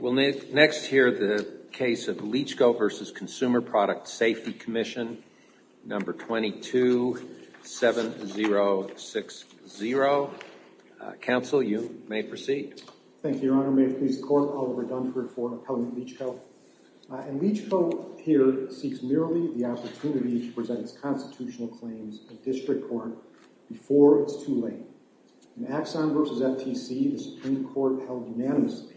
We'll next hear the case of Leachco v. Consumer Product Safety Commission, No. 227060. Counsel you may proceed. Thank you, Your Honor. May it please the Court, Oliver Dunford for Appellant Leachco. Leachco here seeks merely the opportunity to present its constitutional claims in District Court before it's too late. In Axon v. FTC, the Supreme Court held unanimously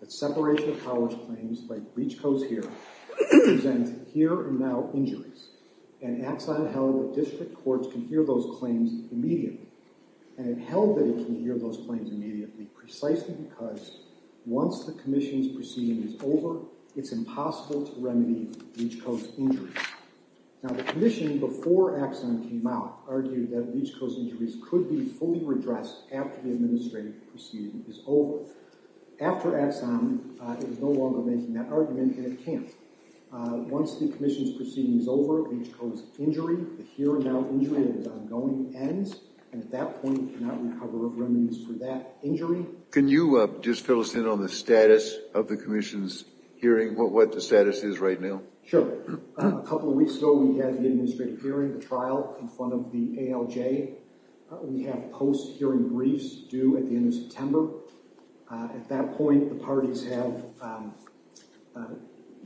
that separation of powers claims, like Leachco's here, present here and now injuries, and Axon held that District Courts can hear those claims immediately. And it held that it can hear those claims immediately precisely because once the Commission's proceeding is over, it's impossible to remedy Leachco's injuries. Now the Commission, before Axon came out, argued that Leachco's injuries could be fully redressed after the administrative proceeding is over. After Axon, it is no longer making that argument, and it can't. Once the Commission's proceeding is over, Leachco's injury, the here and now injury, and its ongoing, ends. And at that point, it cannot recover remedies for that injury. Can you just fill us in on the status of the Commission's hearing, what the status is right now? Sure. A couple of weeks ago, we had the administrative hearing, the trial, in front of the ALJ. We have post-hearing briefs due at the end of September. At that point, the parties have,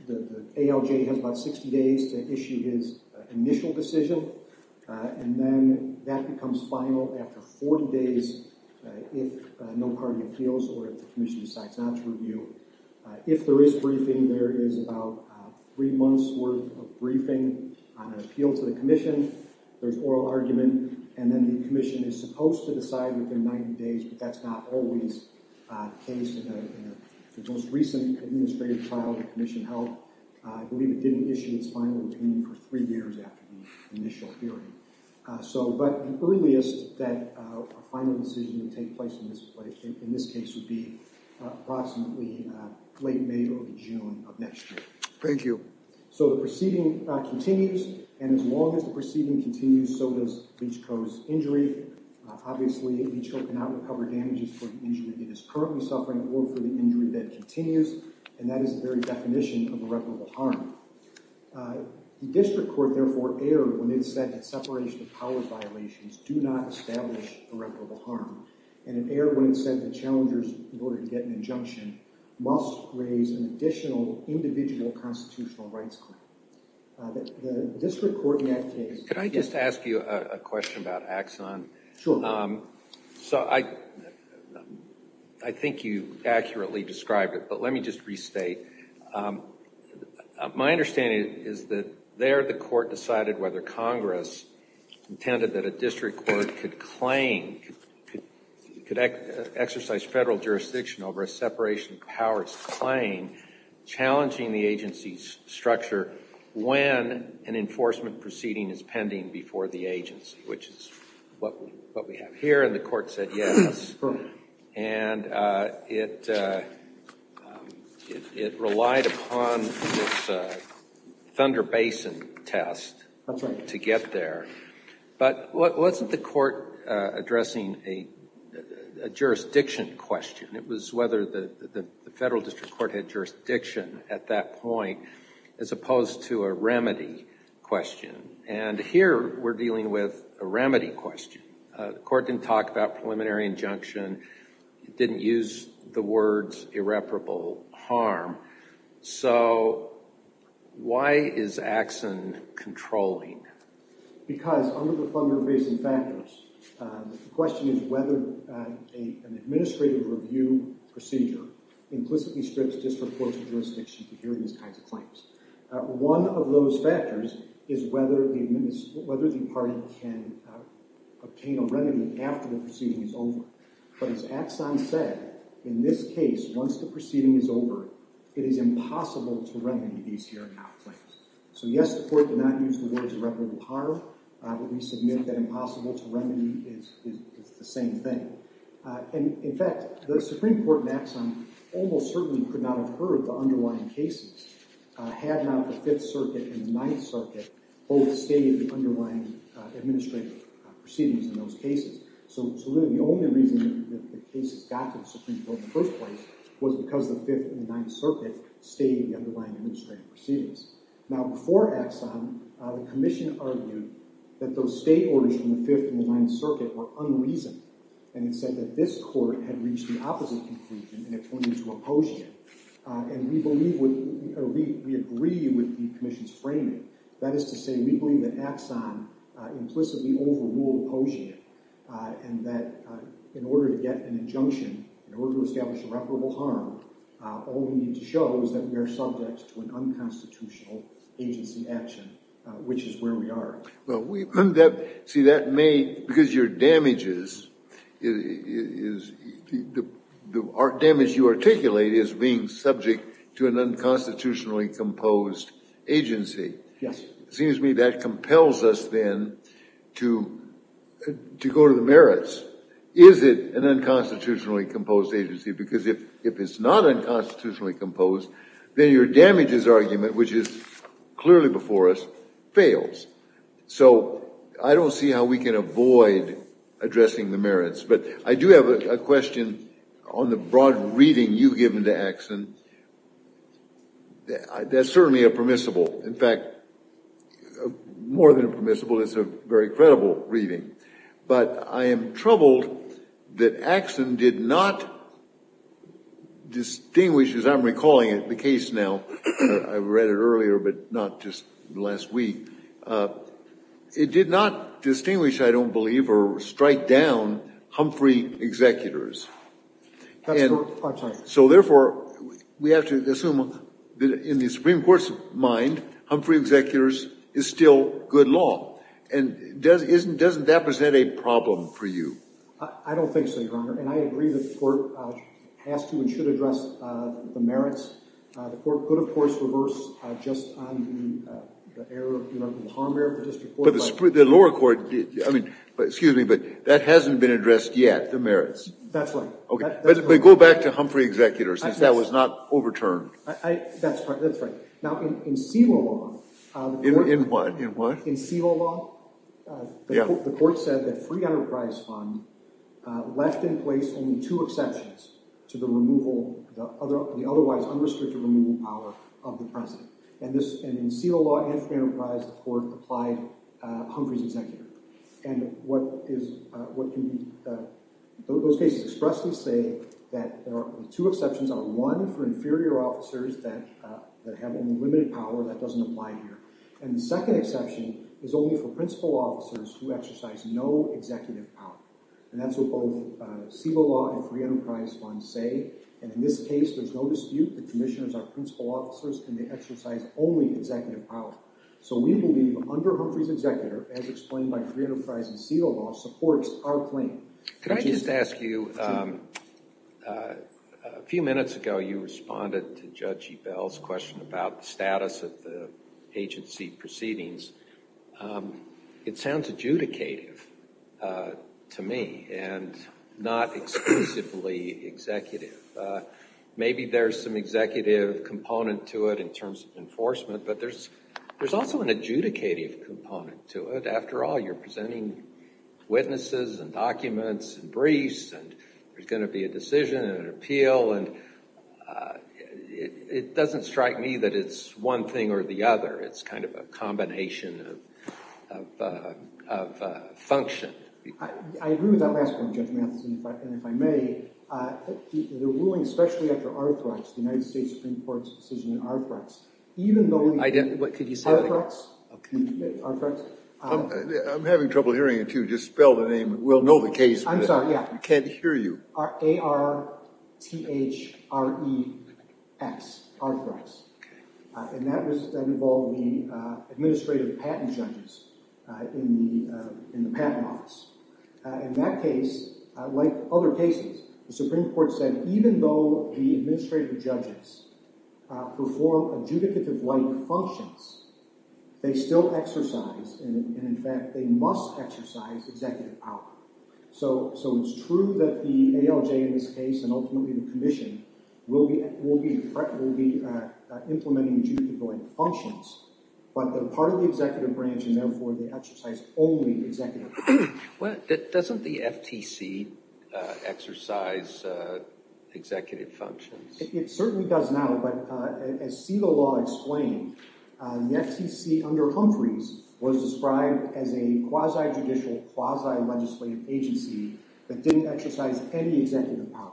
the ALJ has about 60 days to issue his initial decision, and then that becomes final after 40 days if no party appeals or if the Commission decides not to review. If there is briefing, there is about three months' worth of briefing on an appeal to the Commission. There's oral argument, and then the Commission is supposed to decide within 90 days, but that's not always the case in the most recent administrative trial the Commission held. I believe it didn't issue its final opinion for three years after the initial hearing. But the earliest that a final decision would take place in this case would be approximately late May or June of next year. Thank you. So the proceeding continues, and as long as the proceeding continues, so does Leach Co.'s injury. Obviously, Leach Co. cannot recover damages for the injury it is currently suffering or for the injury that continues, and that is the very definition of irreparable harm. The District Court, therefore, erred when it said that separation of powers violations do not establish irreparable harm, and it erred when it said that challengers, in order to get an injunction, must raise an additional individual constitutional rights claim. The District Court in that case— Could I just ask you a question about Axon? Sure. So I think you accurately described it, but let me just restate. My understanding is that there the Court decided whether Congress intended that a District Court could claim, could exercise federal jurisdiction over a separation of powers claim, challenging the agency's structure when an enforcement proceeding is pending before the agency, which is what we have here, and the Court said yes. And it relied upon this Thunder Basin test to get there. But wasn't the Court addressing a jurisdiction question? It was whether the Federal District Court had jurisdiction at that point, as opposed to a remedy question. And here, we're dealing with a remedy question. The Court didn't talk about preliminary injunction. It didn't use the words irreparable harm. So why is Axon controlling? Because under the Thunder Basin factors, the question is whether an administrative review procedure implicitly strips District Courts of jurisdiction to hear these kinds of claims. One of those factors is whether the party can obtain a remedy after the proceeding is over. But as Axon said, in this case, once the proceeding is over, it is impossible to remedy these here claims. So yes, the Court did not use the words irreparable harm. We submit that impossible to remedy is the same thing. In fact, the Supreme Court in Axon almost certainly could not have heard the underlying cases had not the Fifth Circuit and the Ninth Circuit both stated the underlying administrative proceedings in those cases. So really, the only reason that the cases got to the Supreme Court in the first place was because the Fifth and the Ninth Circuit stated the underlying administrative proceedings. Now, before Axon, the Commission argued that those state orders from the Fifth and the Ninth Circuit were unreasoned. And it said that this Court had reached the opposite conclusion, and it pointed to a posiet. And we believe, or we agree with the Commission's framing. That is to say, we believe that Axon implicitly overruled posiet. And that in order to get an injunction, in order to establish irreparable harm, all we need to show is that we are subject to an unconstitutional agency action, which is where we are. See, that may, because your damages, the damage you articulate is being subject to an unconstitutionally composed agency. Yes. It seems to me that compels us then to go to the merits. Is it an unconstitutionally composed agency? Because if it's not unconstitutionally composed, then your damages argument, which is clearly before us, fails. So I don't see how we can avoid addressing the merits. But I do have a question on the broad reading you've given to Axon. That's certainly a permissible. In fact, more than a permissible, it's a very credible reading. But I am troubled that Axon did not distinguish, as I'm recalling it, the case now. I read it earlier, but not just last week. It did not distinguish, I don't believe, or strike down Humphrey Executors. I'm sorry. So therefore, we have to assume that in the Supreme Court's mind, Humphrey Executors is still good law. And doesn't that present a problem for you? I don't think so, Your Honor. And I agree that the Court has to and should address the merits. The Court could, of course, reverse just on the error of the harm error. But the lower court, I mean, excuse me, but that hasn't been addressed yet, the merits. That's right. But go back to Humphrey Executors, since that was not overturned. That's right. Now, in CELA law. In what? In CELA law, the Court said that free enterprise fund left in place only two exceptions to the removal, the otherwise unrestricted removal power of the President. And in CELA law and free enterprise, the Court applied Humphrey Executors. And what is, those cases expressly say that there are two exceptions. One for inferior officers that have unlimited power, that doesn't apply here. And the second exception is only for principal officers who exercise no executive power. And that's what both CELA law and free enterprise fund say. And in this case, there's no dispute. The commissioners are principal officers and they exercise only executive power. So we believe under Humphrey's Executor, as explained by free enterprise and CELA law, supports our claim. Could I just ask you, a few minutes ago you responded to Judge Ebell's question about the status of the agency proceedings. It sounds adjudicative to me and not exclusively executive. Maybe there's some executive component to it in terms of enforcement, but there's also an adjudicative component to it. After all, you're presenting witnesses and documents and briefs and there's going to be a decision and an appeal. It doesn't strike me that it's one thing or the other. It's kind of a combination of function. I agree with that last point, Judge Matheson, if I may. The ruling, especially after ARTHREX, the United States Supreme Court's decision on ARTHREX, even though... What could you say? ARTHREX. I'm having trouble hearing it, too. Just spell the name. We'll know the case. I'm sorry, yeah. We can't hear you. A-R-T-H-R-E-X. ARTHREX. And that involved the Administrative Patent Judges in the Patent Office. In that case, like other cases, the Supreme Court said even though the Administrative Judges perform adjudicative-like functions, they still exercise, and in fact they must exercise, executive power. So it's true that the ALJ in this case, and ultimately the Commission, will be implementing adjudicative-like functions, but they're part of the executive branch, and therefore they exercise only executive power. Doesn't the FTC exercise executive functions? It certainly does now, but as CETA law explained, the FTC under Humphreys was described as a quasi-judicial, quasi-legislative agency that didn't exercise any executive power.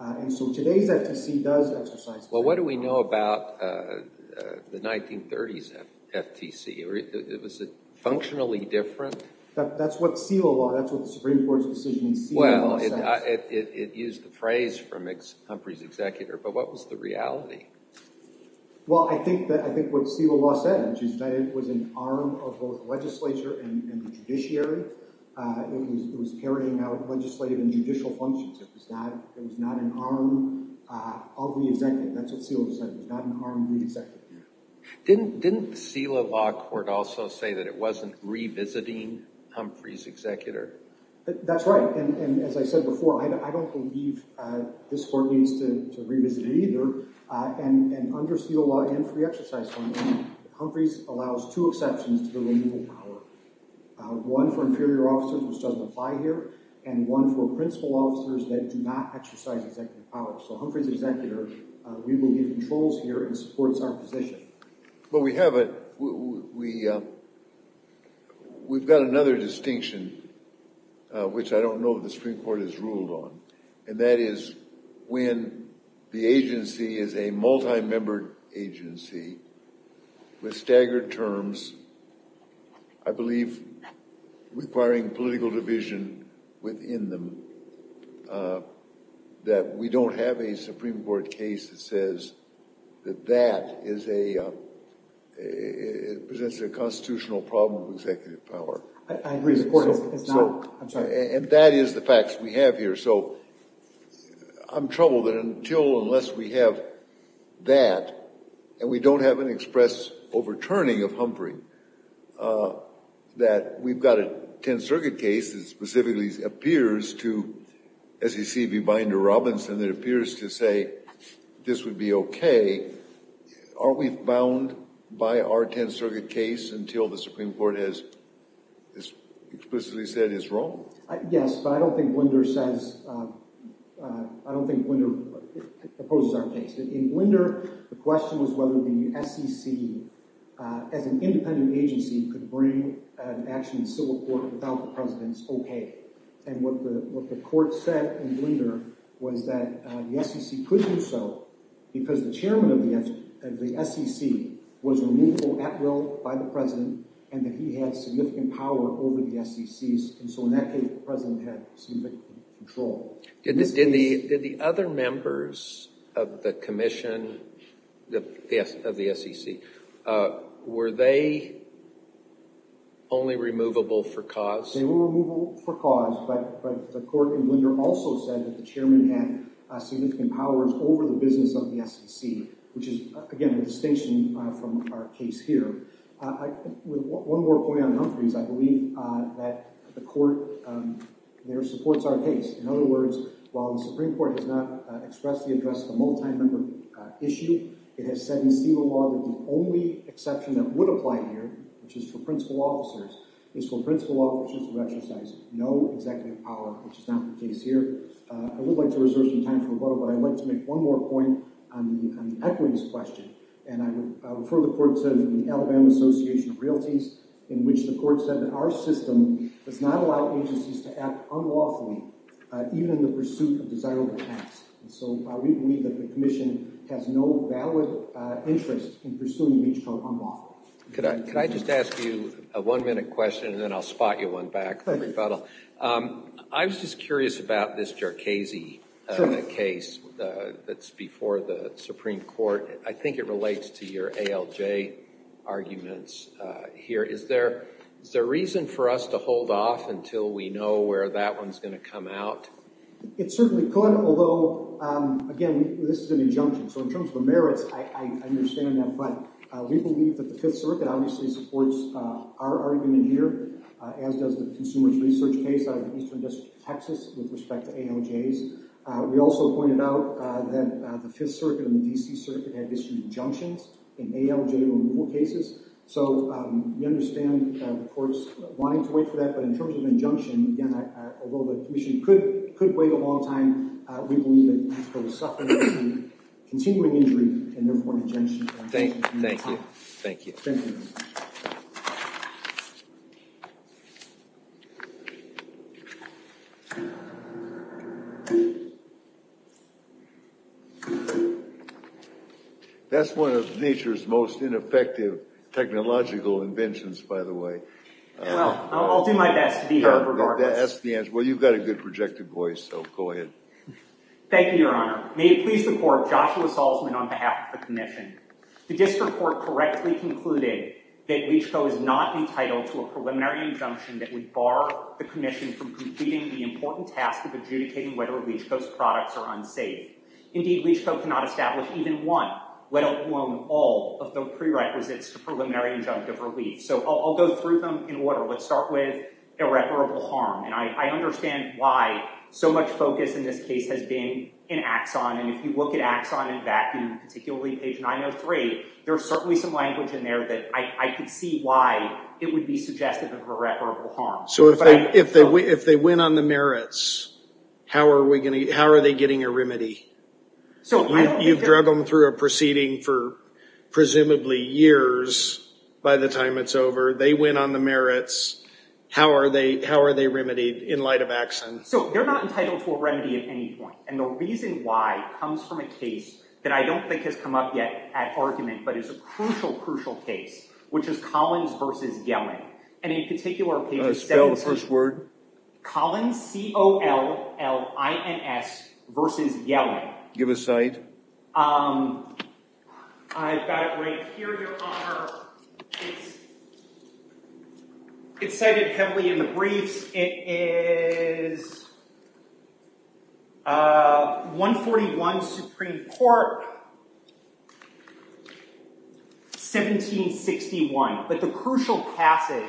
And so today's FTC does exercise executive power. Well, what do we know about the 1930s FTC? Was it functionally different? That's what CELA law, that's what the Supreme Court's decision in CELA says. Well, it used the phrase from Humphreys' executor, but what was the reality? Well, I think what CELA law said, which is that it was an arm of both the legislature and the judiciary, it was carrying out legislative and judicial functions. It was not an arm of the executive, that's what CELA said, it was not an arm of the executive. Didn't the CELA law court also say that it wasn't revisiting Humphreys' executor? That's right, and as I said before, I don't believe this court needs to revisit it either. And under CELA law and for the exercise function, Humphreys allows two exceptions to the legal power. One for inferior officers, which doesn't apply here, and one for principal officers that do not exercise executive power. So Humphreys' executor, we believe, controls here and supports our position. Well, we have a, we've got another distinction, which I don't know if the Supreme Court has ruled on. And that is when the agency is a multi-membered agency with staggered terms, I believe requiring political division within them, that we don't have a Supreme Court case that says that that is a, presents a constitutional problem of executive power. I agree, the court has not, I'm sorry. And that is the facts we have here, so I'm troubled that until, unless we have that, and we don't have an express overturning of Humphrey, that we've got a Tenth Circuit case that specifically appears to, as you see, be binder Robinson, that appears to say this would be okay. Are we bound by our Tenth Circuit case until the Supreme Court has explicitly said it's wrong? Yes, but I don't think Blinder says, I don't think Blinder opposes our case. In Blinder, the question was whether the SEC, as an independent agency, could bring an action in civil court without the president's okay. And what the court said in Blinder was that the SEC could do so because the chairman of the SEC was removable at will by the president and that he had significant power over the SECs, and so in that case, the president had significant control. Did the other members of the commission, of the SEC, were they only removable for cause? They were removable for cause, but the court in Blinder also said that the chairman had significant powers over the business of the SEC, which is, again, a distinction from our case here. One more point on Humphrey's, I believe that the court there supports our case. In other words, while the Supreme Court has not expressed the address of a multi-member issue, it has said in civil law that the only exception that would apply here, which is for principal officers, is for principal officers to exercise no executive power, which is not the case here. I would like to reserve some time for rebuttal, but I'd like to make one more point on the equity question, and I would refer the court to the Alabama Association of Realties, in which the court said that our system does not allow agencies to act unlawfully, even in the pursuit of desirable acts. And so we believe that the commission has no valid interest in pursuing these from unlawful. Could I just ask you a one-minute question, and then I'll spot you one back for rebuttal. I was just curious about this Jercasey case that's before the Supreme Court. I think it relates to your ALJ arguments here. Is there reason for us to hold off until we know where that one's going to come out? It certainly could, although, again, this is an injunction. So in terms of the merits, I understand that, but we believe that the Fifth Circuit obviously supports our argument here, as does the Consumers Research case out of Eastern District, Texas, with respect to ALJs. We also pointed out that the Fifth Circuit and the D.C. Circuit had issued injunctions in ALJ removal cases. So we understand the court's wanting to wait for that, but in terms of injunction, again, although the commission could wait a long time, we believe that the court is suffering from continuing injury, and therefore an injunction. Thank you. Thank you. That's one of nature's most ineffective technological inventions, by the way. Well, I'll do my best to be heard regardless. That's the answer. Well, you've got a good projected voice, so go ahead. Thank you, Your Honor. May it please the court, Joshua Salzman on behalf of the commission. The district court correctly concluded that Leach Co. is not entitled to a preliminary injunction that would bar the commission from completing the important task of adjudicating whether Leach Co.'s products are unsafe. Indeed, Leach Co. cannot establish even one, let alone all, of the prerequisites to preliminary injunctive relief. So I'll go through them in order. Let's start with irreparable harm. And I understand why so much focus in this case has been in Axon. And if you look at Axon and Vacuum, particularly page 903, there's certainly some language in there that I can see why it would be suggestive of irreparable harm. So if they win on the merits, how are they getting a remedy? You've drug them through a proceeding for presumably years by the time it's over. They win on the merits. How are they remedied in light of Axon? So they're not entitled to a remedy at any point. And the reason why comes from a case that I don't think has come up yet at argument, but is a crucial, crucial case, which is Collins v. Yellen. And in particular, page 703. Spell the first word. Collins, C-O-L-L-I-N-S, v. Yellen. Give a cite. I've got it right here, Your Honor. It's cited heavily in the briefs. It is 141 Supreme Court, 1761. But the crucial passage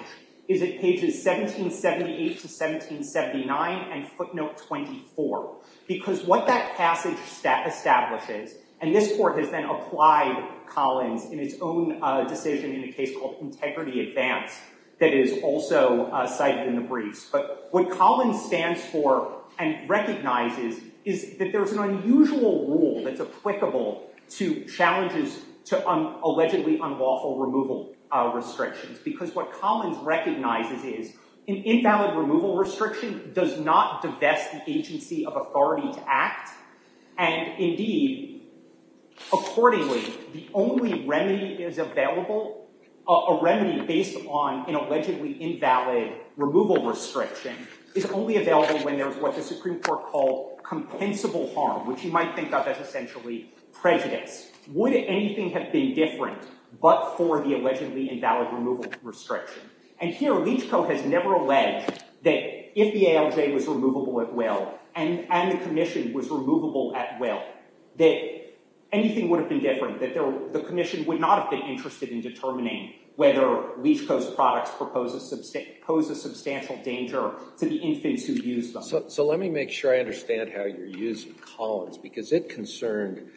is at pages 1778 to 1779 and footnote 24. Because what that passage establishes, and this court has then applied Collins in its own decision in a case called Integrity Advance that is also cited in the briefs. But what Collins stands for and recognizes is that there's an unusual rule that's applicable to challenges to allegedly unlawful removal restrictions. Because what Collins recognizes is an invalid removal restriction does not divest the agency of authority to act. And indeed, accordingly, the only remedy is available, a remedy based on an allegedly invalid removal restriction is only available when there's what the Supreme Court called compensable harm, which you might think of as essentially prejudice. Would anything have been different but for the allegedly invalid removal restriction? And here, Leach Co. has never alleged that if the ALJ was removable at will, and the commission was removable at will, that anything would have been different. The commission would not have been interested in determining whether Leach Co.'s products pose a substantial danger to the infants who use them. So let me make sure I understand how you're using Collins, because it concerned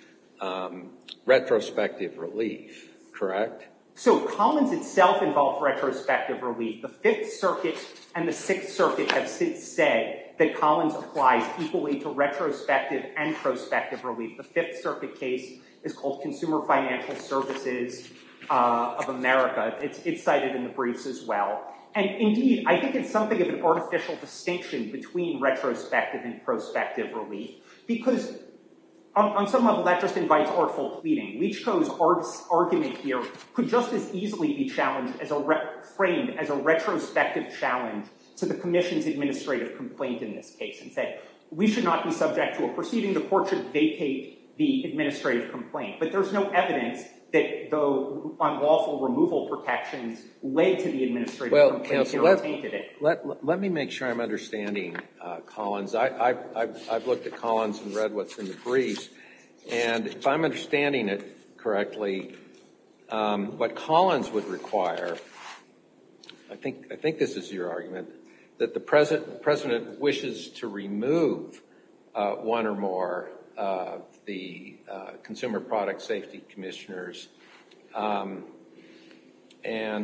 retrospective relief, correct? So Collins itself involved retrospective relief. The Fifth Circuit and the Sixth Circuit have since said that Collins applies equally to retrospective and prospective relief. The Fifth Circuit case is called Consumer Financial Services of America. It's cited in the briefs as well. And indeed, I think it's something of an artificial distinction between retrospective and prospective relief. Because on some level, that just invites artful pleading. Leach Co.'s argument here could just as easily be framed as a retrospective challenge to the commission's administrative complaint in this case. We should not be subject to a proceeding. The court should vacate the administrative complaint. But there's no evidence that unlawful removal protections led to the administrative complaint. Let me make sure I'm understanding Collins. I've looked at Collins and read what's in the briefs. And if I'm understanding it correctly, what Collins would require, I think this is your argument, that the President wishes to remove one or more of the Consumer Product Safety Commissioners and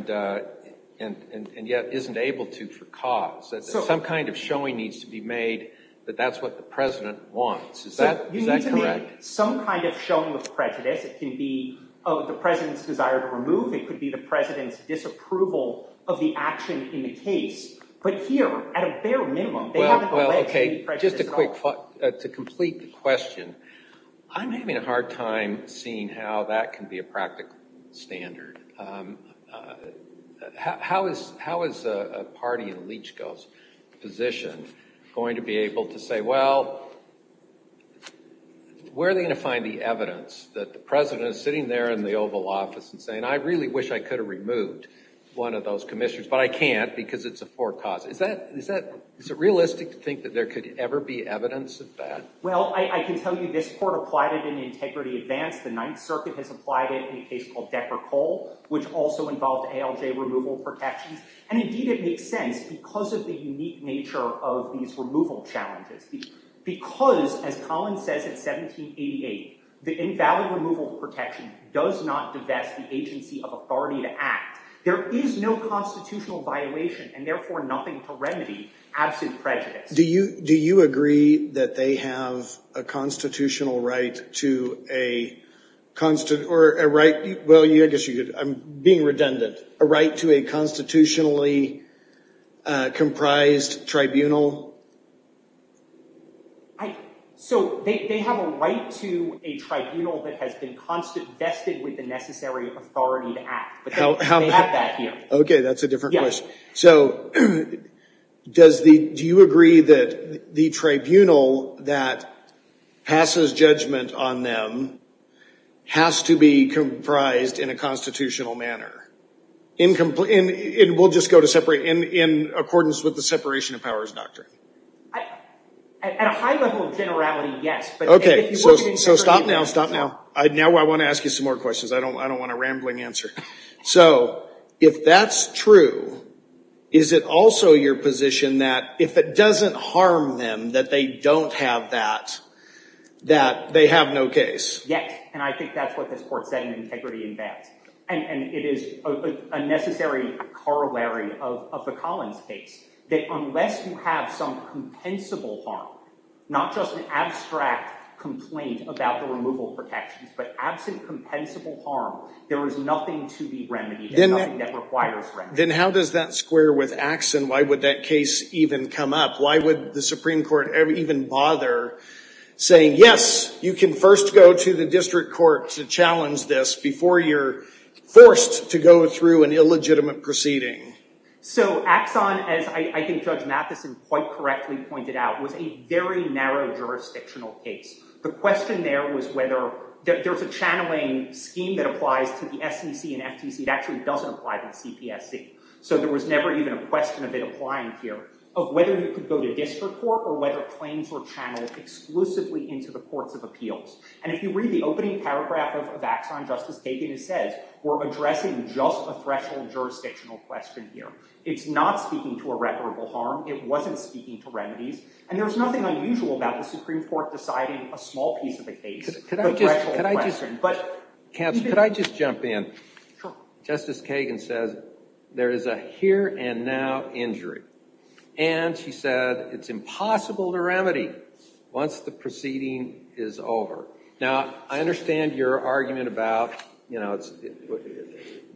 yet isn't able to for cause. Some kind of showing needs to be made that that's what the President wants. Is that correct? You need to make some kind of showing of prejudice. It can be the President's desire to remove. It could be the President's disapproval of the action in the case. But here, at a bare minimum, they haven't alleged any prejudice at all. Just a quick thought to complete the question. I'm having a hard time seeing how that can be a practical standard. How is a party in Leach Co.'s position going to be able to say, well, where are they going to find the evidence that the President is sitting there in the Oval Office and saying, I really wish I could have removed one of those commissioners, but I can't because it's a for cause. Is it realistic to think that there could ever be evidence of that? Well, I can tell you this Court applied it in Integrity Advance. The Ninth Circuit has applied it in a case called Decker-Cole, which also involved ALJ removal protections. And indeed, it makes sense because of the unique nature of these removal challenges. Because, as Collins says in 1788, the invalid removal protection does not divest the agency of authority to act. There is no constitutional violation, and therefore nothing to remedy absolute prejudice. Do you agree that they have a constitutional right to a... Well, I guess you could. I'm being redundant. A right to a constitutionally comprised tribunal? So, they have a right to a tribunal that has been vested with the necessary authority to act. They have that here. Okay, that's a different question. So, do you agree that the tribunal that passes judgment on them has to be comprised in a constitutional manner? In accordance with the Separation of Powers Doctrine? At a high level of generality, yes. Okay, so stop now, stop now. Now I want to ask you some more questions. I don't want a rambling answer. So, if that's true, is it also your position that if it doesn't harm them that they don't have that, that they have no case? Yes, and I think that's what this Court said in Integrity Advance. And it is a necessary corollary of the Collins case. That unless you have some compensable harm, not just an abstract complaint about the removal protections, but absent compensable harm, there is nothing to be remedied, and nothing that requires remediation. Then how does that square with Axon? Why would that case even come up? Why would the Supreme Court even bother saying, yes, you can first go to the District Court to challenge this before you're forced to go through an illegitimate proceeding? So Axon, as I think Judge Matheson quite correctly pointed out, was a very narrow jurisdictional case. The question there was whether, there's a channeling scheme that applies to the SEC and FTC. It actually doesn't apply to the CPSC. So there was never even a question of it applying here. Of whether you could go to District Court, or whether claims were channeled exclusively into the Courts of Appeals. And if you read the opening paragraph of Axon, Justice Kagan says, we're addressing just a threshold jurisdictional question here. It's not speaking to irreparable harm. It wasn't speaking to remedies. And there's nothing unusual about the Supreme Court deciding a small piece of the case, a threshold question. Counsel, could I just jump in? Sure. Justice Kagan says, there is a here and now injury. And she said, it's impossible to remedy, once the proceeding is over. Now, I understand your argument about,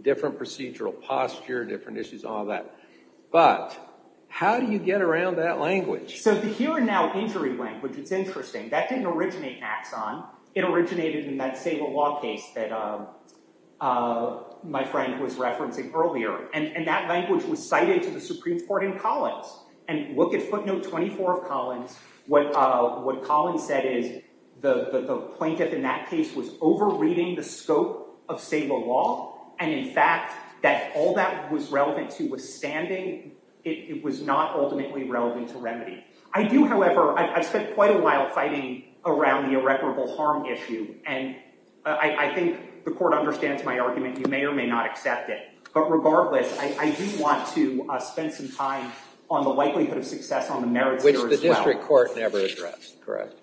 different procedural posture, different issues, all that. But, how do you get around that language? So the here and now injury language, it's interesting. That didn't originate in Axon. It originated in that Sable Law case that my friend was referencing earlier. And that language was cited to the Supreme Court in Collins. And look at footnote 24 of Collins. What Collins said is, the plaintiff in that case was over-reading the scope of Sable Law. And in fact, that all that was relevant to withstanding, it was not ultimately relevant to remedy. I do, however, I've spent quite a while fighting around the irreparable harm issue. And I think the Court understands my argument. You may or may not accept it. But regardless, I do want to spend some time on the likelihood of success on the merits here as well. Which the district court never addressed, correct?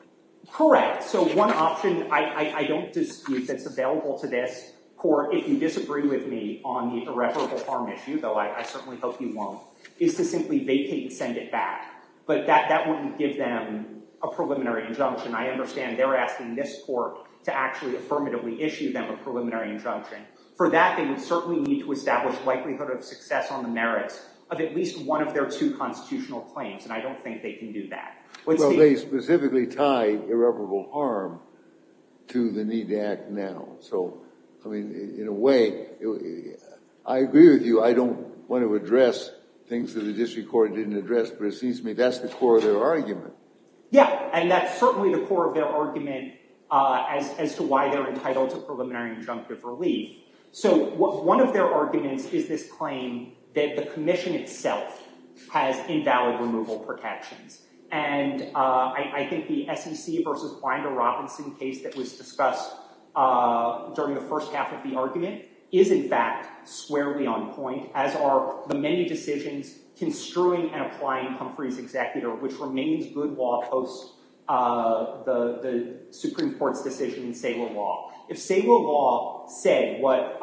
Correct. So one option I don't dispute that's available to this court, if you disagree with me on the irreparable harm issue, though I certainly hope you won't, is to simply vacate and send it back. But that wouldn't give them a preliminary injunction. I understand they're asking this court to actually affirmatively issue them a preliminary injunction. For that, they would certainly need to establish likelihood of success on the merits of at least one of their two constitutional claims. And I don't think they can do that. Well, they specifically tied irreparable harm to the need to act now. So, I mean, in a way, I agree with you. I don't want to address things that the district court didn't address. But it seems to me that's the core of their argument. Yeah. And that's certainly the core of their argument as to why they're entitled to a preliminary injunction of deductive relief. So one of their arguments is this claim that the commission itself has invalid removal protections. And I think the SEC versus Finder-Robinson case that was discussed during the first half of the argument is, in fact, squarely on point, as are the many decisions construing and applying Humphrey's executor, which remains good law post the Supreme Court's decision in Saylor law. If Saylor law said what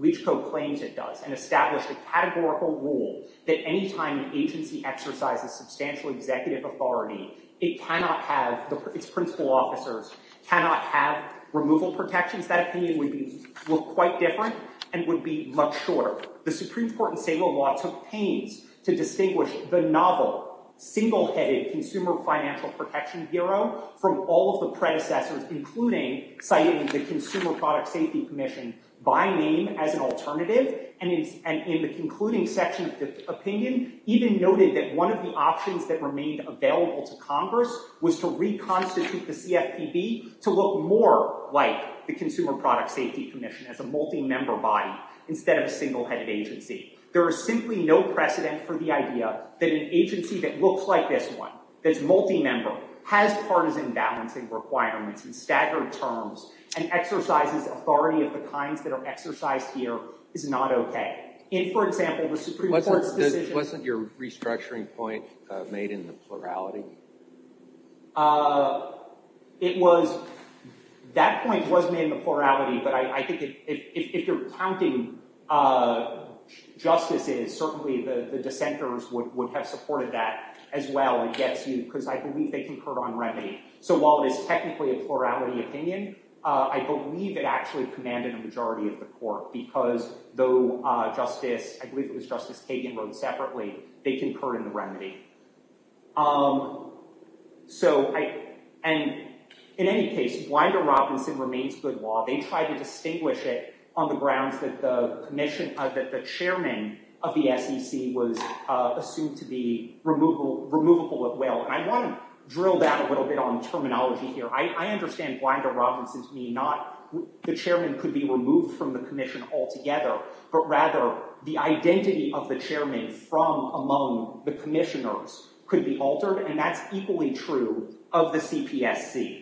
Leach Co. claims it does and established a categorical rule that any time an agency exercises substantial executive authority, it cannot have, its principal officers cannot have removal protections, that opinion would look quite different and would be much shorter. The Supreme Court in Saylor law took pains to distinguish the novel, single-headed consumer financial protection bureau from all of the predecessors, including citing the Consumer Product Safety Commission by name as an alternative. And in the concluding section of the opinion, even noted that one of the options that remained available to Congress was to reconstitute the CFPB to look more like the Consumer Product Safety Commission, as a multi-member body instead of a single-headed agency. There is simply no precedent for the idea that an agency that looks like this one, that's multi-member, has partisan balancing requirements in staggered terms and exercises authority of the kinds that are exercised here, is not OK. In, for example, the Supreme Court's decision- Wasn't your restructuring point made in the plurality? It was. That point was made in the plurality, but I think if you're counting justices, certainly the dissenters would have supported that as well. Because I believe they concurred on remedy. So while it is technically a plurality opinion, I believe it actually commanded a majority of the court. Because though Justice- I believe it was Justice Kagan wrote separately, they concurred on the remedy. In any case, Blinder-Robinson remains good law. They tried to distinguish it on the grounds that the chairman of the SEC was assumed to be removable at will. And I want to drill down a little bit on terminology here. I understand Blinder-Robinson to mean not the chairman could be removed from the commission altogether, but rather the identity of the chairman from among the commissioners could be altered. And that's equally true of the CPSC.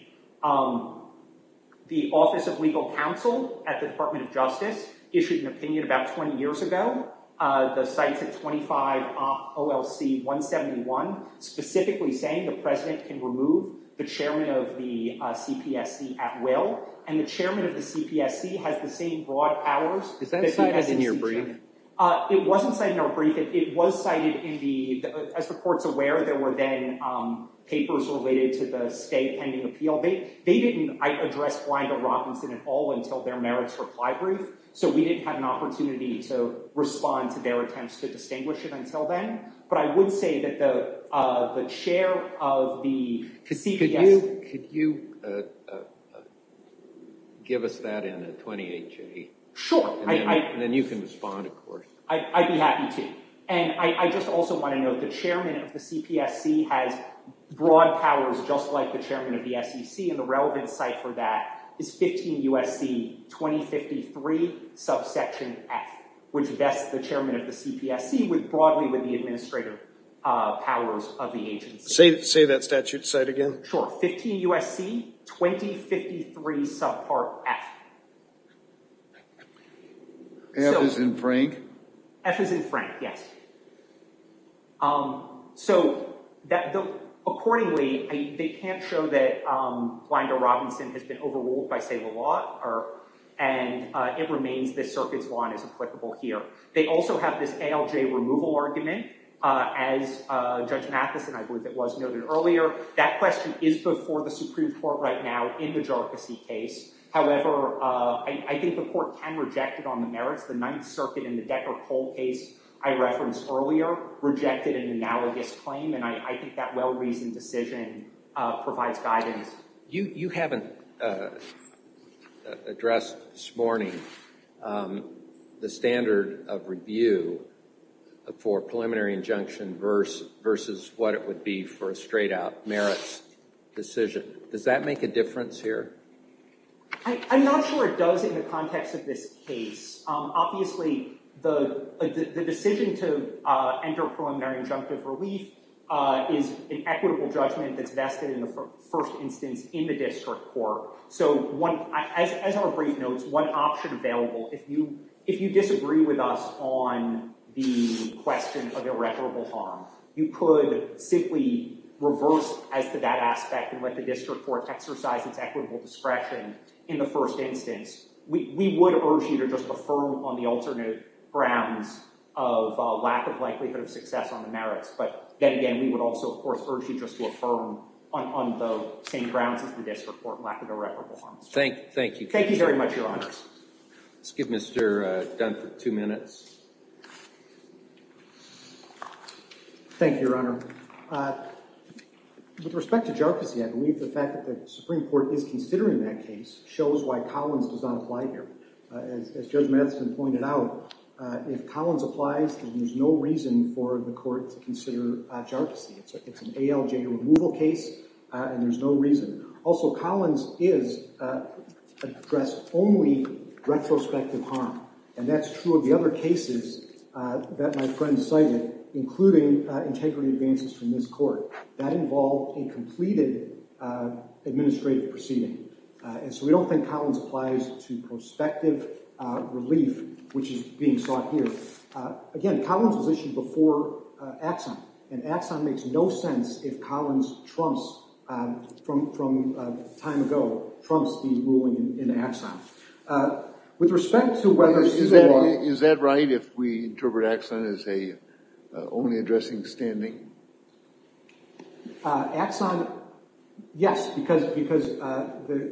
The Office of Legal Counsel at the Department of Justice issued an opinion about 20 years ago. The site's at 25 OLC 171, specifically saying the president can remove the chairman of the CPSC at will. And the chairman of the CPSC has the same broad powers- Is that cited in your brief? It wasn't cited in our brief. It was cited in the- As the court's aware, there were then papers related to the state pending appeal. They didn't address Blinder-Robinson at all until their merits reply brief. So we didn't have an opportunity to respond to their attempts to distinguish him until then. But I would say that the chair of the CPSC- Could you give us that in a 28-J? Sure. And then you can respond, of course. I'd be happy to. And I just also want to note the chairman of the CPSC has broad powers just like the chairman of the SEC. And the relevant site for that is 15 USC 2053. Subsection F, which vests the chairman of the CPSC broadly with the administrative powers of the agency. Say that statute site again. Sure. 15 USC 2053 subpart F. F as in Frank? F as in Frank, yes. So accordingly, they can't show that Blinder-Robinson has been overruled by say the law and it remains this circuit's law as applicable here. They also have this ALJ removal argument as Judge Matheson, I believe it was, noted earlier. That question is before the Supreme Court right now in the Jarkissi case. However, I think the court can reject it on the merits. The Ninth Circuit in the Decker-Cole case I referenced earlier rejected an analogous claim. And I think that well-reasoned decision provides guidance. You haven't addressed this morning the standard of review for preliminary injunction versus what it would be for a straight-out merits decision. Does that make a difference here? I'm not sure it does in the context of this case. Obviously, the decision to enter preliminary injunctive relief is an equitable judgment that's vested in the first instance in the district court. So as our brief notes, one option available, if you disagree with us on the question of irreparable harm, you could simply reverse that aspect and let the district court exercise its equitable discretion in the first instance. We would urge you to just affirm on the alternate grounds of lack of likelihood of success on the merits. But then again, we would also, of course, urge you just to affirm on the same grounds as the district court lack of irreparable harm. Thank you. Thank you very much, Your Honors. Let's give Mr. Dunford two minutes. Thank you, Your Honor. With respect to jarczy, I believe the fact that the Supreme Court is considering that case shows why Collins does not apply here. As Judge Matheson pointed out, if Collins applies, then there's no reason for the court to consider jarczy. It's an ALJ removal case, and there's no reason. Also, Collins is addressed only retrospective harm. And that's true of the other cases that my friend cited, including integrity advances from this court. That involved a completed administrative proceeding. And so we don't think Collins applies to prospective relief, which is being sought here. Again, Collins was issued before Axon. And Axon makes no sense if Collins trumps, from time ago, trumps the ruling in Axon. With respect to whether... Is that right if we interpret Axon as only addressing standing? Axon, yes, because,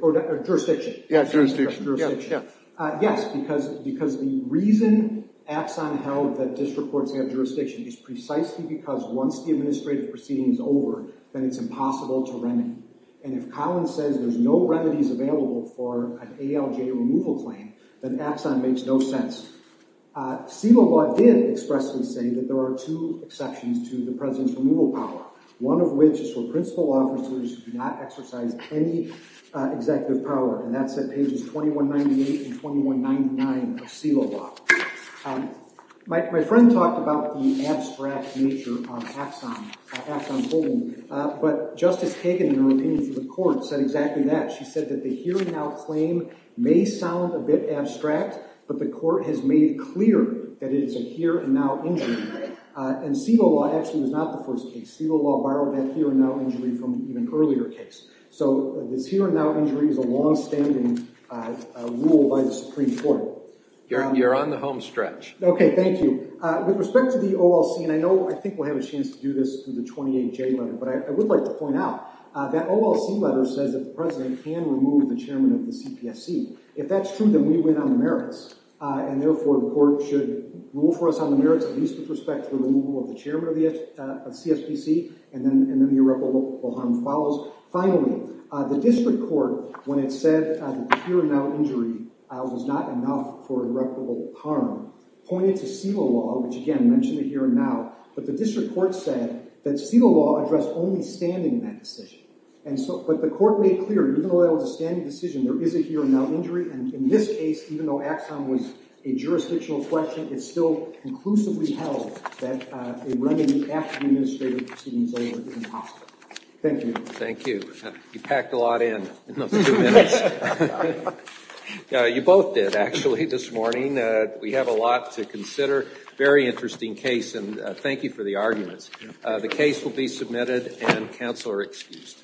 or jurisdiction. Yeah, jurisdiction. Yes, because the reason Axon held that district courts have jurisdiction is precisely because once the administrative proceeding is over, then it's impossible to remedy. And if Collins says there's no remedies available for an ALJ removal claim, then Axon makes no sense. SILA law did expressly say that there are two exceptions to the president's removal power, one of which is for principal officers who do not exercise any executive power. And that's at pages 2198 and 2199 of SILA law. My friend talked about the abstract nature of Axon holding. But Justice Kagan, in her opinion for the court, said exactly that. She said that the here-and-now claim may sound a bit abstract, but the court has made clear that it is a here-and-now injury. And SILA law actually was not the first case. SILA law borrowed that here-and-now injury from an earlier case. So this here-and-now injury is a longstanding rule by the Supreme Court. You're on the home stretch. Okay, thank you. With respect to the OLC, and I think we'll have a chance to do this through the 28J letter, but I would like to point out that OLC letter says that the president can remove the chairman of the CPSC. If that's true, then we win on the merits. And therefore, the court should rule for us on the merits at least with respect to the removal of the chairman of CSPC and then the irreparable harm follows. Finally, the district court, when it said that the here-and-now injury was not enough for irreparable harm, pointed to SILA law, which again mentioned a here-and-now, but the district court said that SILA law addressed only standing in that decision. But the court made clear, even though that was a standing decision, there is a here-and-now injury, and in this case, even though Axon was a jurisdictional question, it still conclusively held that a remedy after the administrative proceedings over was impossible. Thank you. Thank you. You packed a lot in in those two minutes. You both did, actually, this morning. We have a lot to consider. Very interesting case, and thank you for the arguments. The case will be submitted, and counsel are excused. Thank you.